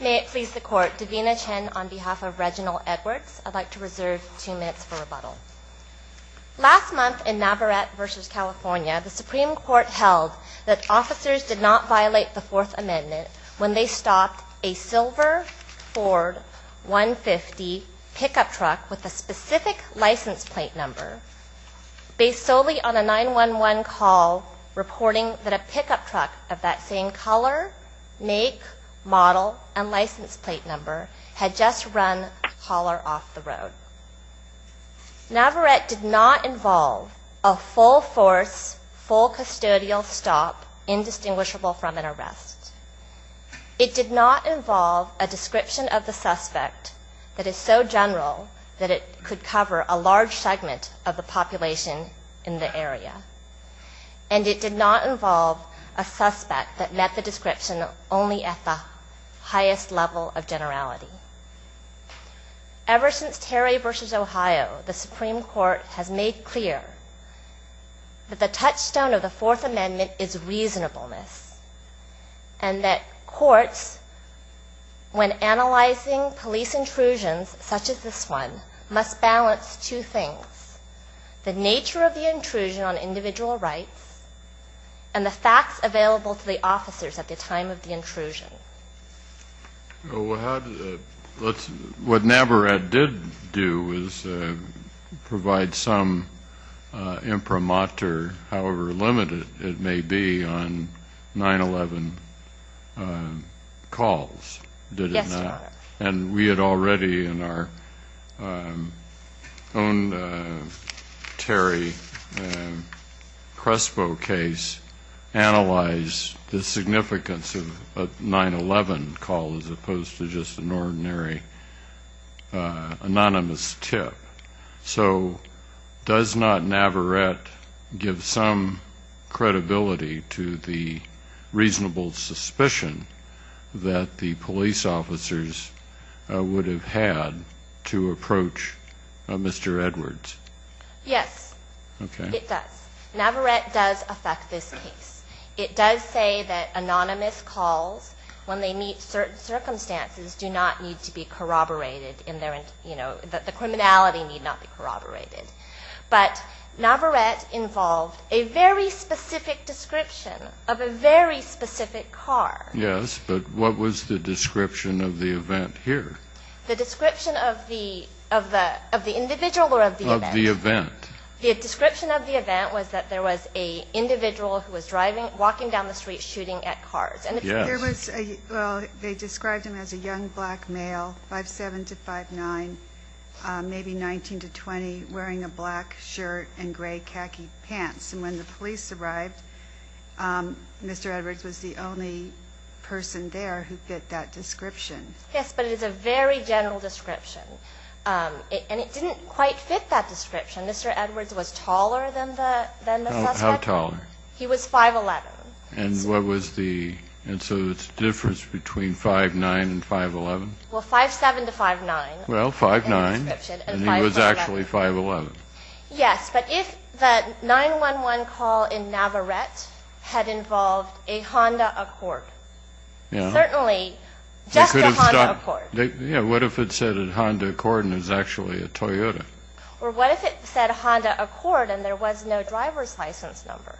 May it please the Court, Davina Chen on behalf of Reginald Edwards. I'd like to reserve two minutes for rebuttal. Last month in Navarrette v. California, the Supreme Court held that officers did not violate the Fourth Amendment when they stopped a silver Ford 150 pickup truck with a specific license plate number based solely on a 911 call reporting that a pickup truck of that same color, make, model, and license plate number had just run a caller off the road. Navarrette did not involve a full force, full custodial stop indistinguishable from an arrest. It did not involve a description of the suspect that is so general that it could cover a large segment of the population in the area. And it did not involve a suspect that met the highest level of generality. Ever since Terry v. Ohio, the Supreme Court has made clear that the touchstone of the Fourth Amendment is reasonableness and that courts, when analyzing police intrusions such as this one, must balance two things. The nature of the intrusion on individual rights and the facts available to the officers at the time of the intrusion. What Navarrette did do was provide some imprimatur, however limited it may be, on 911 calls, did it not? Yes, Your Honor. And we had already in our own Terry Crespo report, we had already in our own Terry Crespo case, analyzed the significance of a 911 call as opposed to just an ordinary anonymous tip. So does not Navarrette give some credibility to the reasonable suspicion that the police officers would have had to approach Mr. Edwards? Yes, it does. Navarrette does affect this case. It does say that anonymous calls, when they meet certain circumstances, do not need to be corroborated in their, you know, that the criminality need not be corroborated. But Navarrette involved a very specific description of a very specific car. Yes, but what was the description of the event here? The description of the individual or of the event? Of the event. The description of the event was that there was an individual who was driving, walking down the street, shooting at cars. Yes. There was a, well, they described him as a young black male, 5'7 to 5'9, maybe 19 to 20, wearing a black shirt and gray khaki pants. And when the police arrived, Mr. Edwards was the only person there who fit that description. Yes, but it is a very general description. And it didn't quite fit that description. Mr. Edwards was taller than the suspect. How tall? He was 5'11. And what was the, and so it's a difference between 5'9 and 5'11? Well, 5'7 to 5'9. Well, 5'9 and he was actually 5'11. Yes, but if the 911 call in Navarrette had involved a Honda Accord, certainly just as a Honda Accord. What if it said a Honda Accord and it was actually a Toyota? Or what if it said a Honda Accord and there was no driver's license number?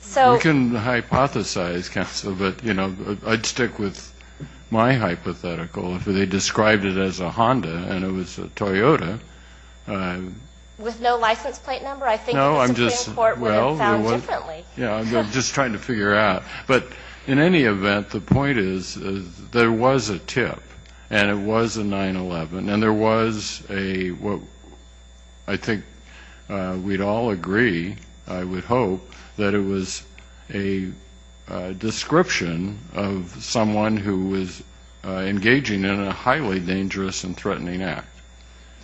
So You can hypothesize, Counsel, but, you know, I'd stick with my hypothetical. If they described it as a Honda and it was a Toyota With no license plate number? I think the Supreme Court would have found differently. Yeah, I'm just trying to figure out. But in any event, the point is, there was a tip and it was a 911. And there was a, I think we'd all agree, I would hope, that it was a description of someone who was engaging in a highly dangerous and threatening act.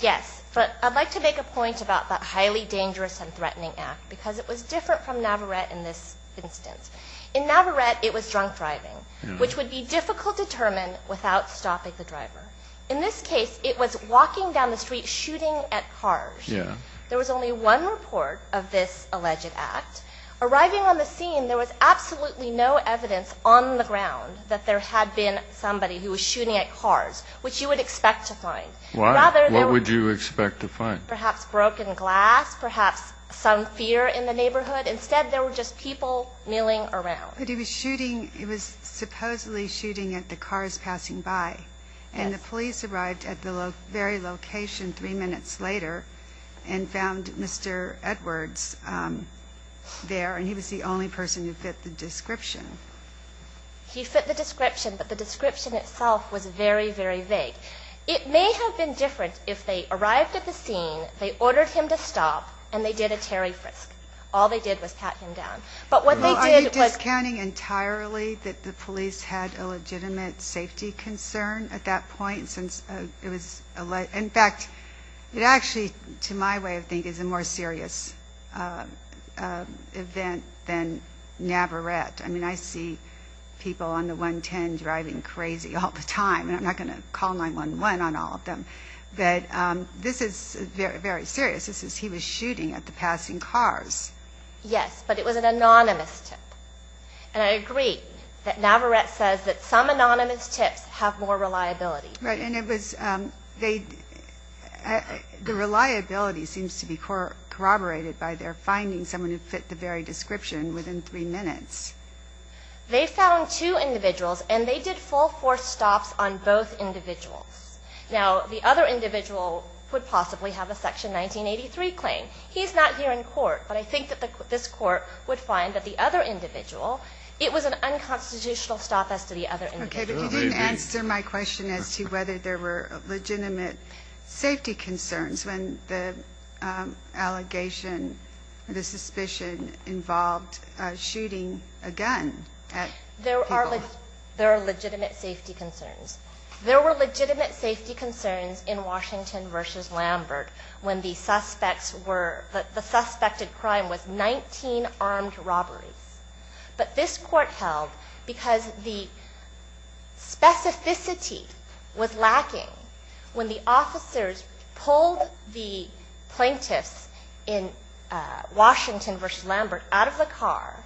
Yes, but I'd like to make a point about that highly dangerous and threatening act because it was different from Navarrette in this instance. In Navarrette, it was drunk driving, which would be difficult to determine without stopping the driver. In this case, it was walking down the street, shooting at cars. There was only one report of this alleged act. Arriving on the scene, there was absolutely no evidence on the ground that there had been somebody who was shooting at cars, which you would expect to find. What? What would you expect to find? Perhaps broken glass, perhaps some fear in the neighborhood. Instead, there were just people milling around. But he was shooting, he was supposedly shooting at the cars passing by. Yes. And the police arrived at the very location three minutes later and found Mr. Edwards there, and he was the only person who fit the description. He fit the description, but the description itself was very, very vague. It may have been different if they arrived at the scene, they ordered him to stop, and they did a Terry Frisk. All they did was pat him down. But what they did was... Are you discounting entirely that the police had a legitimate safety concern at that point since it was alleged? In fact, it actually, to my way of thinking, is a more serious event than Navarrette. I mean, I see people on the 110 driving crazy all the time, and I'm not going to call 911 on all of them, but this is very, very serious. This is, he was shooting at the passing cars. Yes, but it was an anonymous tip. And I agree that Navarrette says that some anonymous tips have more reliability. Right, and it was, they, the reliability seems to be corroborated by their finding someone who fit the very description within three minutes. They found two individuals, and they did full force stops on both individuals. Now, the other individual would possibly have a section 1983 claim. He's not here in court, but I think that this court would find that the other individual, it was an unconstitutional stop as to the other individual. Okay, but you didn't answer my question as to whether there were legitimate safety concerns when the allegation, the suspicion involved shooting a gun at people. There are legitimate safety concerns. There were legitimate safety concerns in Washington versus Lambert when the suspects were, the suspected crime was 19 armed robberies. But this court held, because the specificity was lacking, when the officers pulled the gun plaintiffs in Washington versus Lambert out of the car,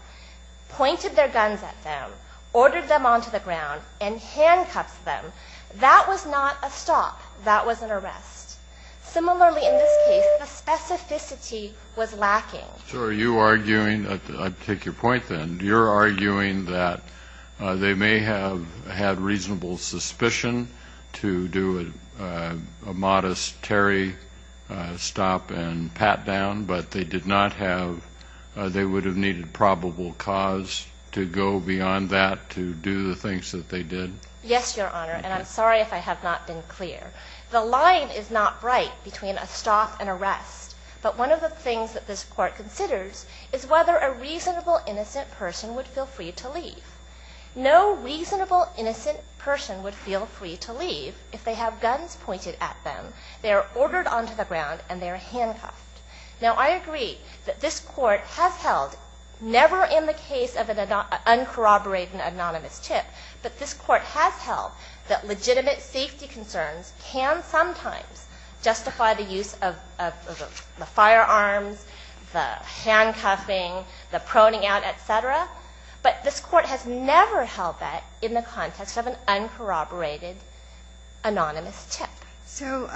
pointed their guns at them, ordered them onto the ground, and handcuffed them, that was not a stop. That was an arrest. Similarly, in this case, the specificity was lacking. So are you arguing, I take your point then, you're arguing that they may have had reasonable suspicion to do a modest Terry stop and pat down, but they did not have, they would have needed probable cause to go beyond that to do the things that they did? Yes, Your Honor, and I'm sorry if I have not been clear. The line is not right between a stop and arrest, but one of the things that this court considers is whether a reasonable innocent person would feel free to leave if they have guns pointed at them, they are ordered onto the ground, and they are handcuffed. Now I agree that this court has held, never in the case of an uncorroborated and anonymous tip, but this court has held that legitimate safety concerns can sometimes justify the use of the firearms, the handcuffing, the proning out, et cetera. But this court has never held that in the context of an uncorroborated, anonymous tip. So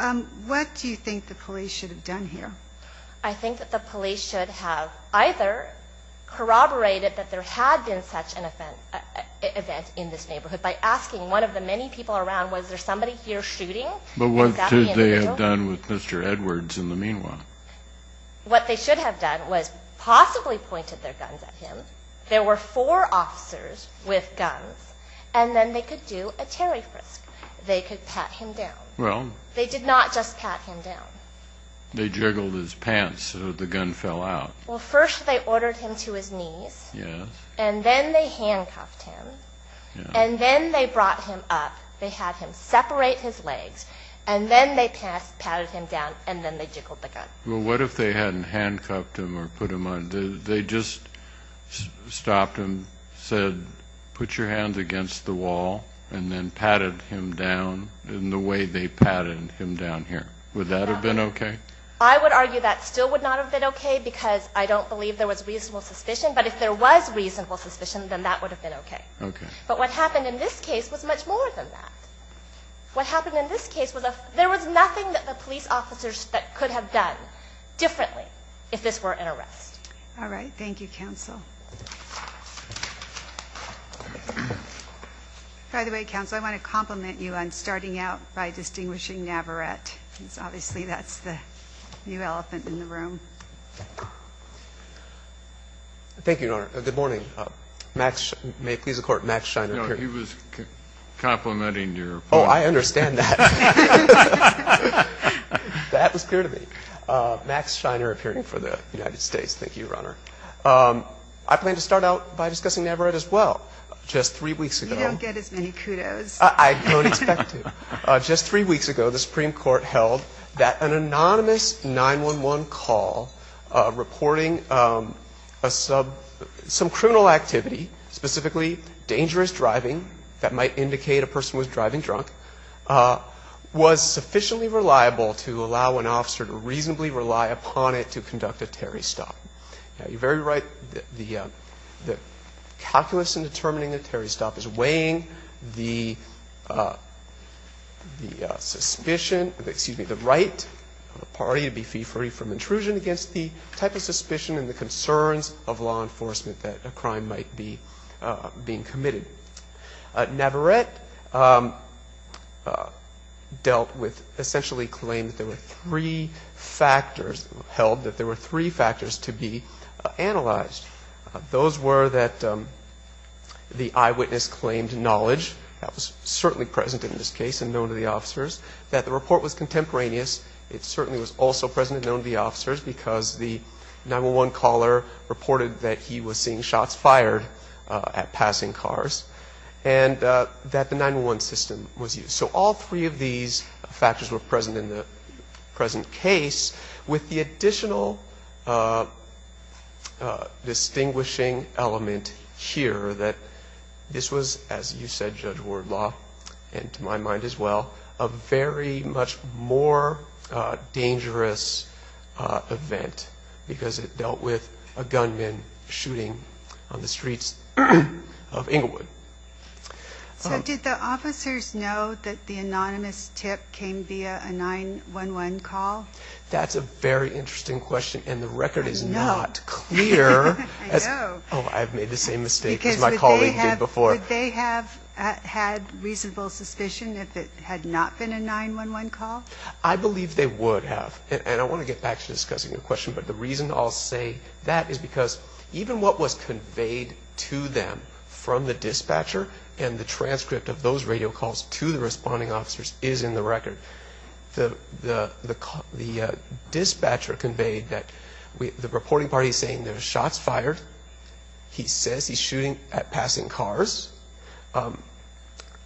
what do you think the police should have done here? I think that the police should have either corroborated that there had been such an event in this neighborhood by asking one of the many people around, was there somebody here shooting? But what should they have done with Mr. Edwards in the meanwhile? What they should have done was possibly pointed their guns at him. There were four officers with guns, and then they could do a Terry Frisk. They could pat him down. Well... They did not just pat him down. They jiggled his pants so that the gun fell out. Well, first they ordered him to his knees, and then they handcuffed him, and then they brought him up. They had him separate his legs, and then they patted him down, and then they jiggled the gun. Well, what if they hadn't handcuffed him or put him on? They just stopped him, said, put your hands against the wall, and then patted him down in the way they patted him down here. Would that have been okay? I would argue that still would not have been okay, because I don't believe there was reasonable suspicion. But if there was reasonable suspicion, then that would have been okay. But what happened in this case was much more than that. What happened in this case was there was nothing that the police officers could have done differently if this were an arrest. All right. Thank you, Counsel. By the way, Counsel, I want to compliment you on starting out by distinguishing Navarrette, because obviously that's the new elephant in the room. Thank you, Your Honor. Good morning. May it please the Court, Max Scheiner, appearing. No, he was complimenting your point. Oh, I understand that. That was clear to me. Max Scheiner, appearing for the United States. Thank you, Your Honor. I plan to start out by discussing Navarrette as well. Just three weeks ago... You don't get as many kudos. I don't expect to. Just three weeks ago, the Supreme Court held that an anonymous 911 call reporting some criminal activity, specifically dangerous driving that might indicate a person was driving drunk, was sufficiently reliable to allow an officer to reasonably rely upon it to conduct a Terry stop. Now, you're very right. The calculus in determining a Terry stop is weighing the suspicion, excuse me, the right of the party to be fee-free from intrusion against the type of suspicion and the concerns of law enforcement that a crime might be being committed. Navarrette dealt with, essentially claimed that there were three factors, held that there were three factors to be analyzed. Those were that the eyewitness claimed knowledge, that was certainly present in this case and known to the officers, that the report was contemporaneous. It certainly was also present and known to the officers because the 911 caller reported that he was seeing shots fired at passing cars and that the 911 system was used. So all three of these factors were present in the present case with the additional distinguishing element here that this was, as you said, Judge Wardlaw, and to my mind as well, a very much more dangerous event because it dealt with a gunman shooting on the streets of Inglewood. So did the officers know that the anonymous tip came via a 911 call? That's a very interesting question and the record is not clear as, oh, I've made the same mistake as my colleague did before. Would they have had reasonable suspicion if it had not been a 911 call? I believe they would have, and I want to get back to discussing the question, but the reason I'll say that is because even what was conveyed to them from the dispatcher and the transcript of those radio calls to the responding officers is in the record. The dispatcher conveyed that the reporting party is saying there's shots fired. He says he's shooting at passing cars,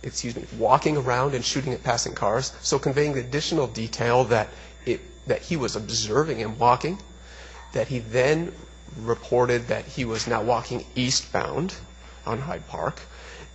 excuse me, walking around and shooting at passing cars. So conveying the additional detail that he was observing him walking, that he then reported that he was now walking eastbound on Hyde Park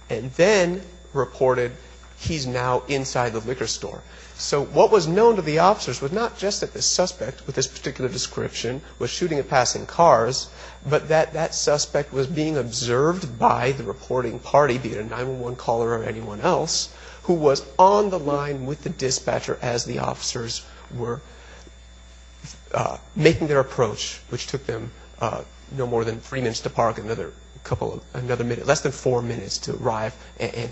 and then reported he's now inside the liquor store. So what was known to the officers was not just that the suspect with this particular description was shooting at passing cars, but that that suspect was being observed by the reporting party, be it a 911 caller or anyone else, who was on the line with the dispatcher as the officers were making their approach, which took them no more than three minutes to park, less than three minutes to park. So they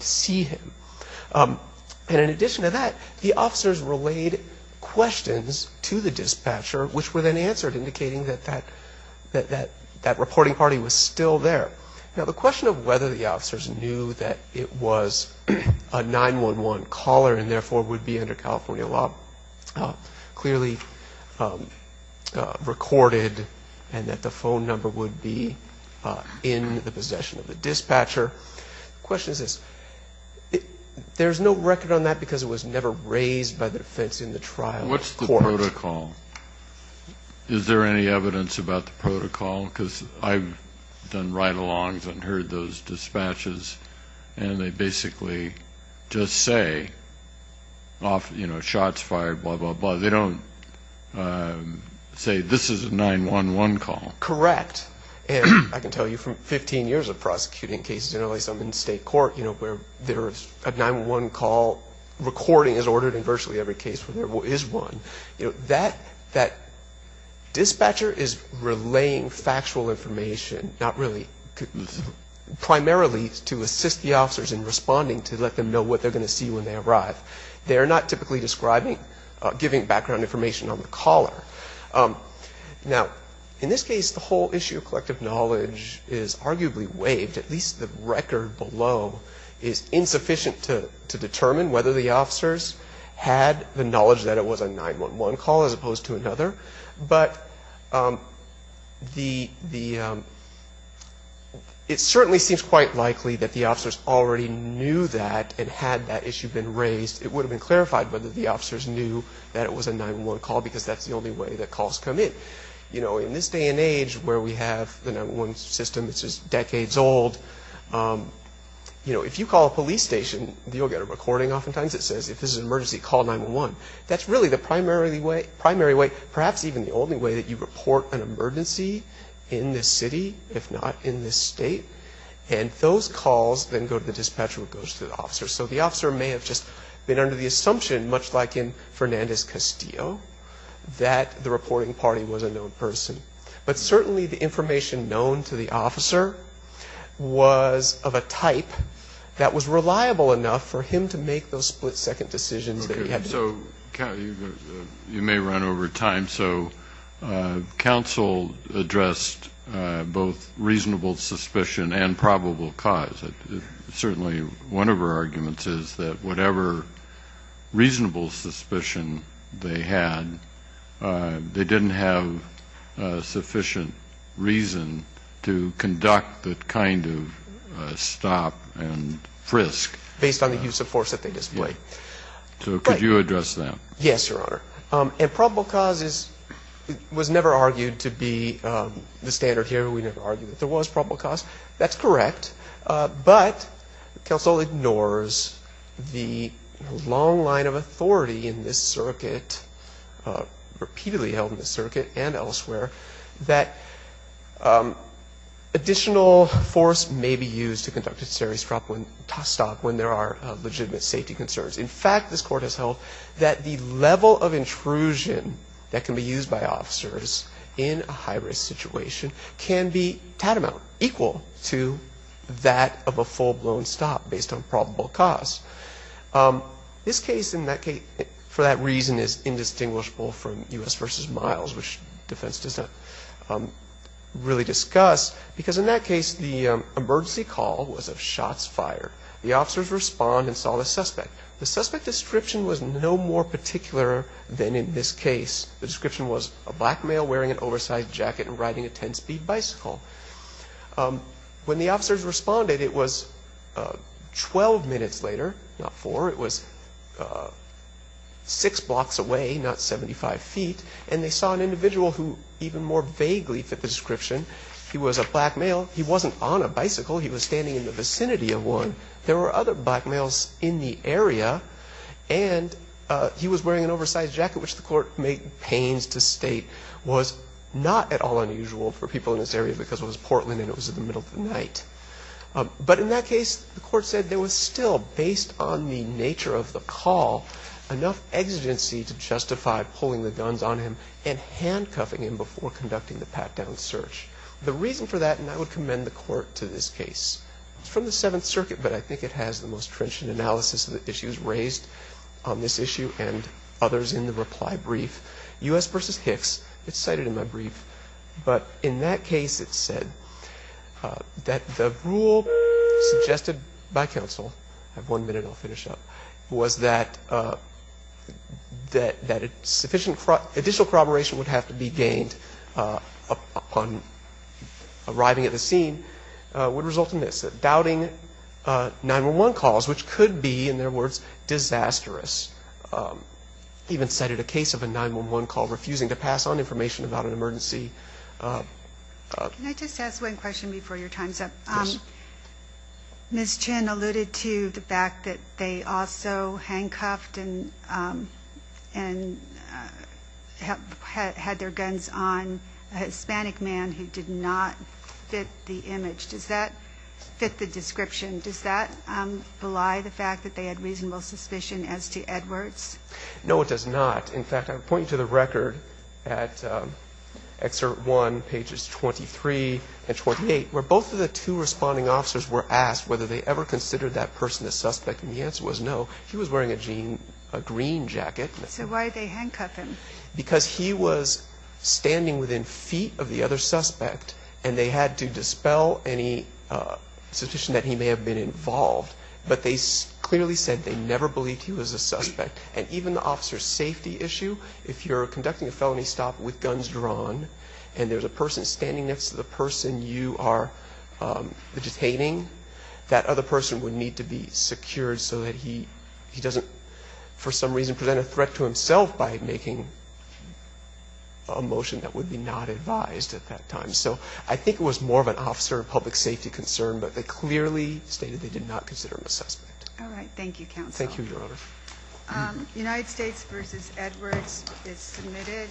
sent questions to the dispatcher, which were then answered, indicating that that reporting party was still there. Now, the question of whether the officers knew that it was a 911 caller and therefore would be under California law clearly recorded and that the phone number would be in the possession of the dispatcher, the question What's the protocol? Is there any evidence about the protocol? Because I've done ride-alongs and heard those dispatches and they basically just say, you know, shots fired, blah, blah, blah. They don't say this is a 911 call. Correct. And I can tell you from 15 years of prosecuting cases in LA, some in state court, you know, where there is a 911 call recording is ordered in virtually every case where there is one, you know, that dispatcher is relaying factual information, not really, primarily to assist the officers in responding to let them know what they're going to see when they arrive. They are not typically describing, giving background information on the caller. Now, in this case, the whole issue of collective knowledge is arguably waived, at least the record below is insufficient to determine whether the officers had the knowledge that it was a 911 call as opposed to another, but it certainly seems quite likely that the officers already knew that and had that issue been raised, it would have been clarified whether the officers knew that it was a 911 call because that's the only way that calls come in. You know, in this day and age where we have the 911 system, it's just decades old, you know, if you call a police station, you'll get a recording oftentimes that says, if this is an emergency, call 911. That's really the primary way, perhaps even the only way that you report an emergency in this city, if not in this state, and those calls then go to the dispatcher, which goes to the officer. So the officer may have just been under the assumption, much like in Fernandez-Castillo, that the reporting party was a known person. But certainly the information known to the make those split-second decisions that you had to make. So you may run over time, so counsel addressed both reasonable suspicion and probable cause. Certainly one of our arguments is that whatever reasonable suspicion they had, they didn't have sufficient reason to conduct that kind of stop and frisk. Based on the use of force that they displayed. So could you address that? Yes, Your Honor. And probable cause was never argued to be the standard here. We never argued that there was probable cause. That's correct. But counsel ignores the long line of authority in this circuit, repeatedly held in this circuit and elsewhere, that additional force may be used to conduct a serious stop when there are legitimate safety concerns. In fact, this Court has held that the level of intrusion that can be used by officers in a high-risk situation can be tatamount, equal to that of a full-blown stop based on probable cause. This case, for that reason, is indistinguishable from U.S. v. Miles, which defense does not really discuss, because in that case, the emergency call was of shots fired. The officers respond and saw the suspect. The suspect description was no more particular than in this case. The description was a black male wearing an oversized jacket and riding a 10-speed bicycle. When the officers responded, it was 12 minutes later, not 4, it was 6 blocks away, not 75 feet, and they saw an individual who even more vaguely fit the description. He was a black male. He wasn't on a bicycle. He was standing in the vicinity of one. There were other black males in the area, and he was wearing an oversized jacket, which the Court made pains to state was not at all unusual for people in this area because it was Portland and it was in the middle of the night. But in that case, the Court said there was still, based on the nature of the call, enough exigency to justify pulling the guns on him and handcuffing him before conducting the pat-down search. The reason for that, and I would commend the Court to this case, it's from the Seventh Circuit, but I think it has the most trenchant analysis of the issues raised on this issue and others in the reply brief. U.S. v. Hicks, it's cited in my brief, but in that case, it said that the rule suggested by counsel, I have one minute, I'll finish up, was that additional corroboration would have to be gained upon arriving at the scene would result in this, that doubting 911 calls, which could be, in their words, disastrous, even cited a case of a 911 call refusing to pass on information about an emergency. Can I just ask one question before your time's up? Yes. Ms. Chin alluded to the fact that they also handcuffed and had their guns on a Hispanic man who did not fit the image. Does that fit the description? Does that belie the fact that they had reasonable suspicion as to Edwards? No, it does not. In fact, I'm pointing to the record at Excerpt 1, pages 23 and 28, where both of the two responding officers were asked whether they ever considered that person a suspect, and the answer was no. He was wearing a green jacket. So why did they handcuff him? Because he was standing within feet of the other suspect, and they had to dispel any suspicion that he may have been involved, but they clearly said they never believed he was a suspect. And even the officer's safety issue, if you're conducting a felony stop with guns drawn, and there's a person standing next to the person you are detaining, that other person would need to be secured so that he doesn't, for some reason, present a threat to himself by making a motion that would be not advised at that time. So I think it was more of an officer of public safety concern, but they clearly stated they did not consider him a suspect. All right. Thank you, counsel. Thank you, Your Honor. United States v. Edwards is submitted.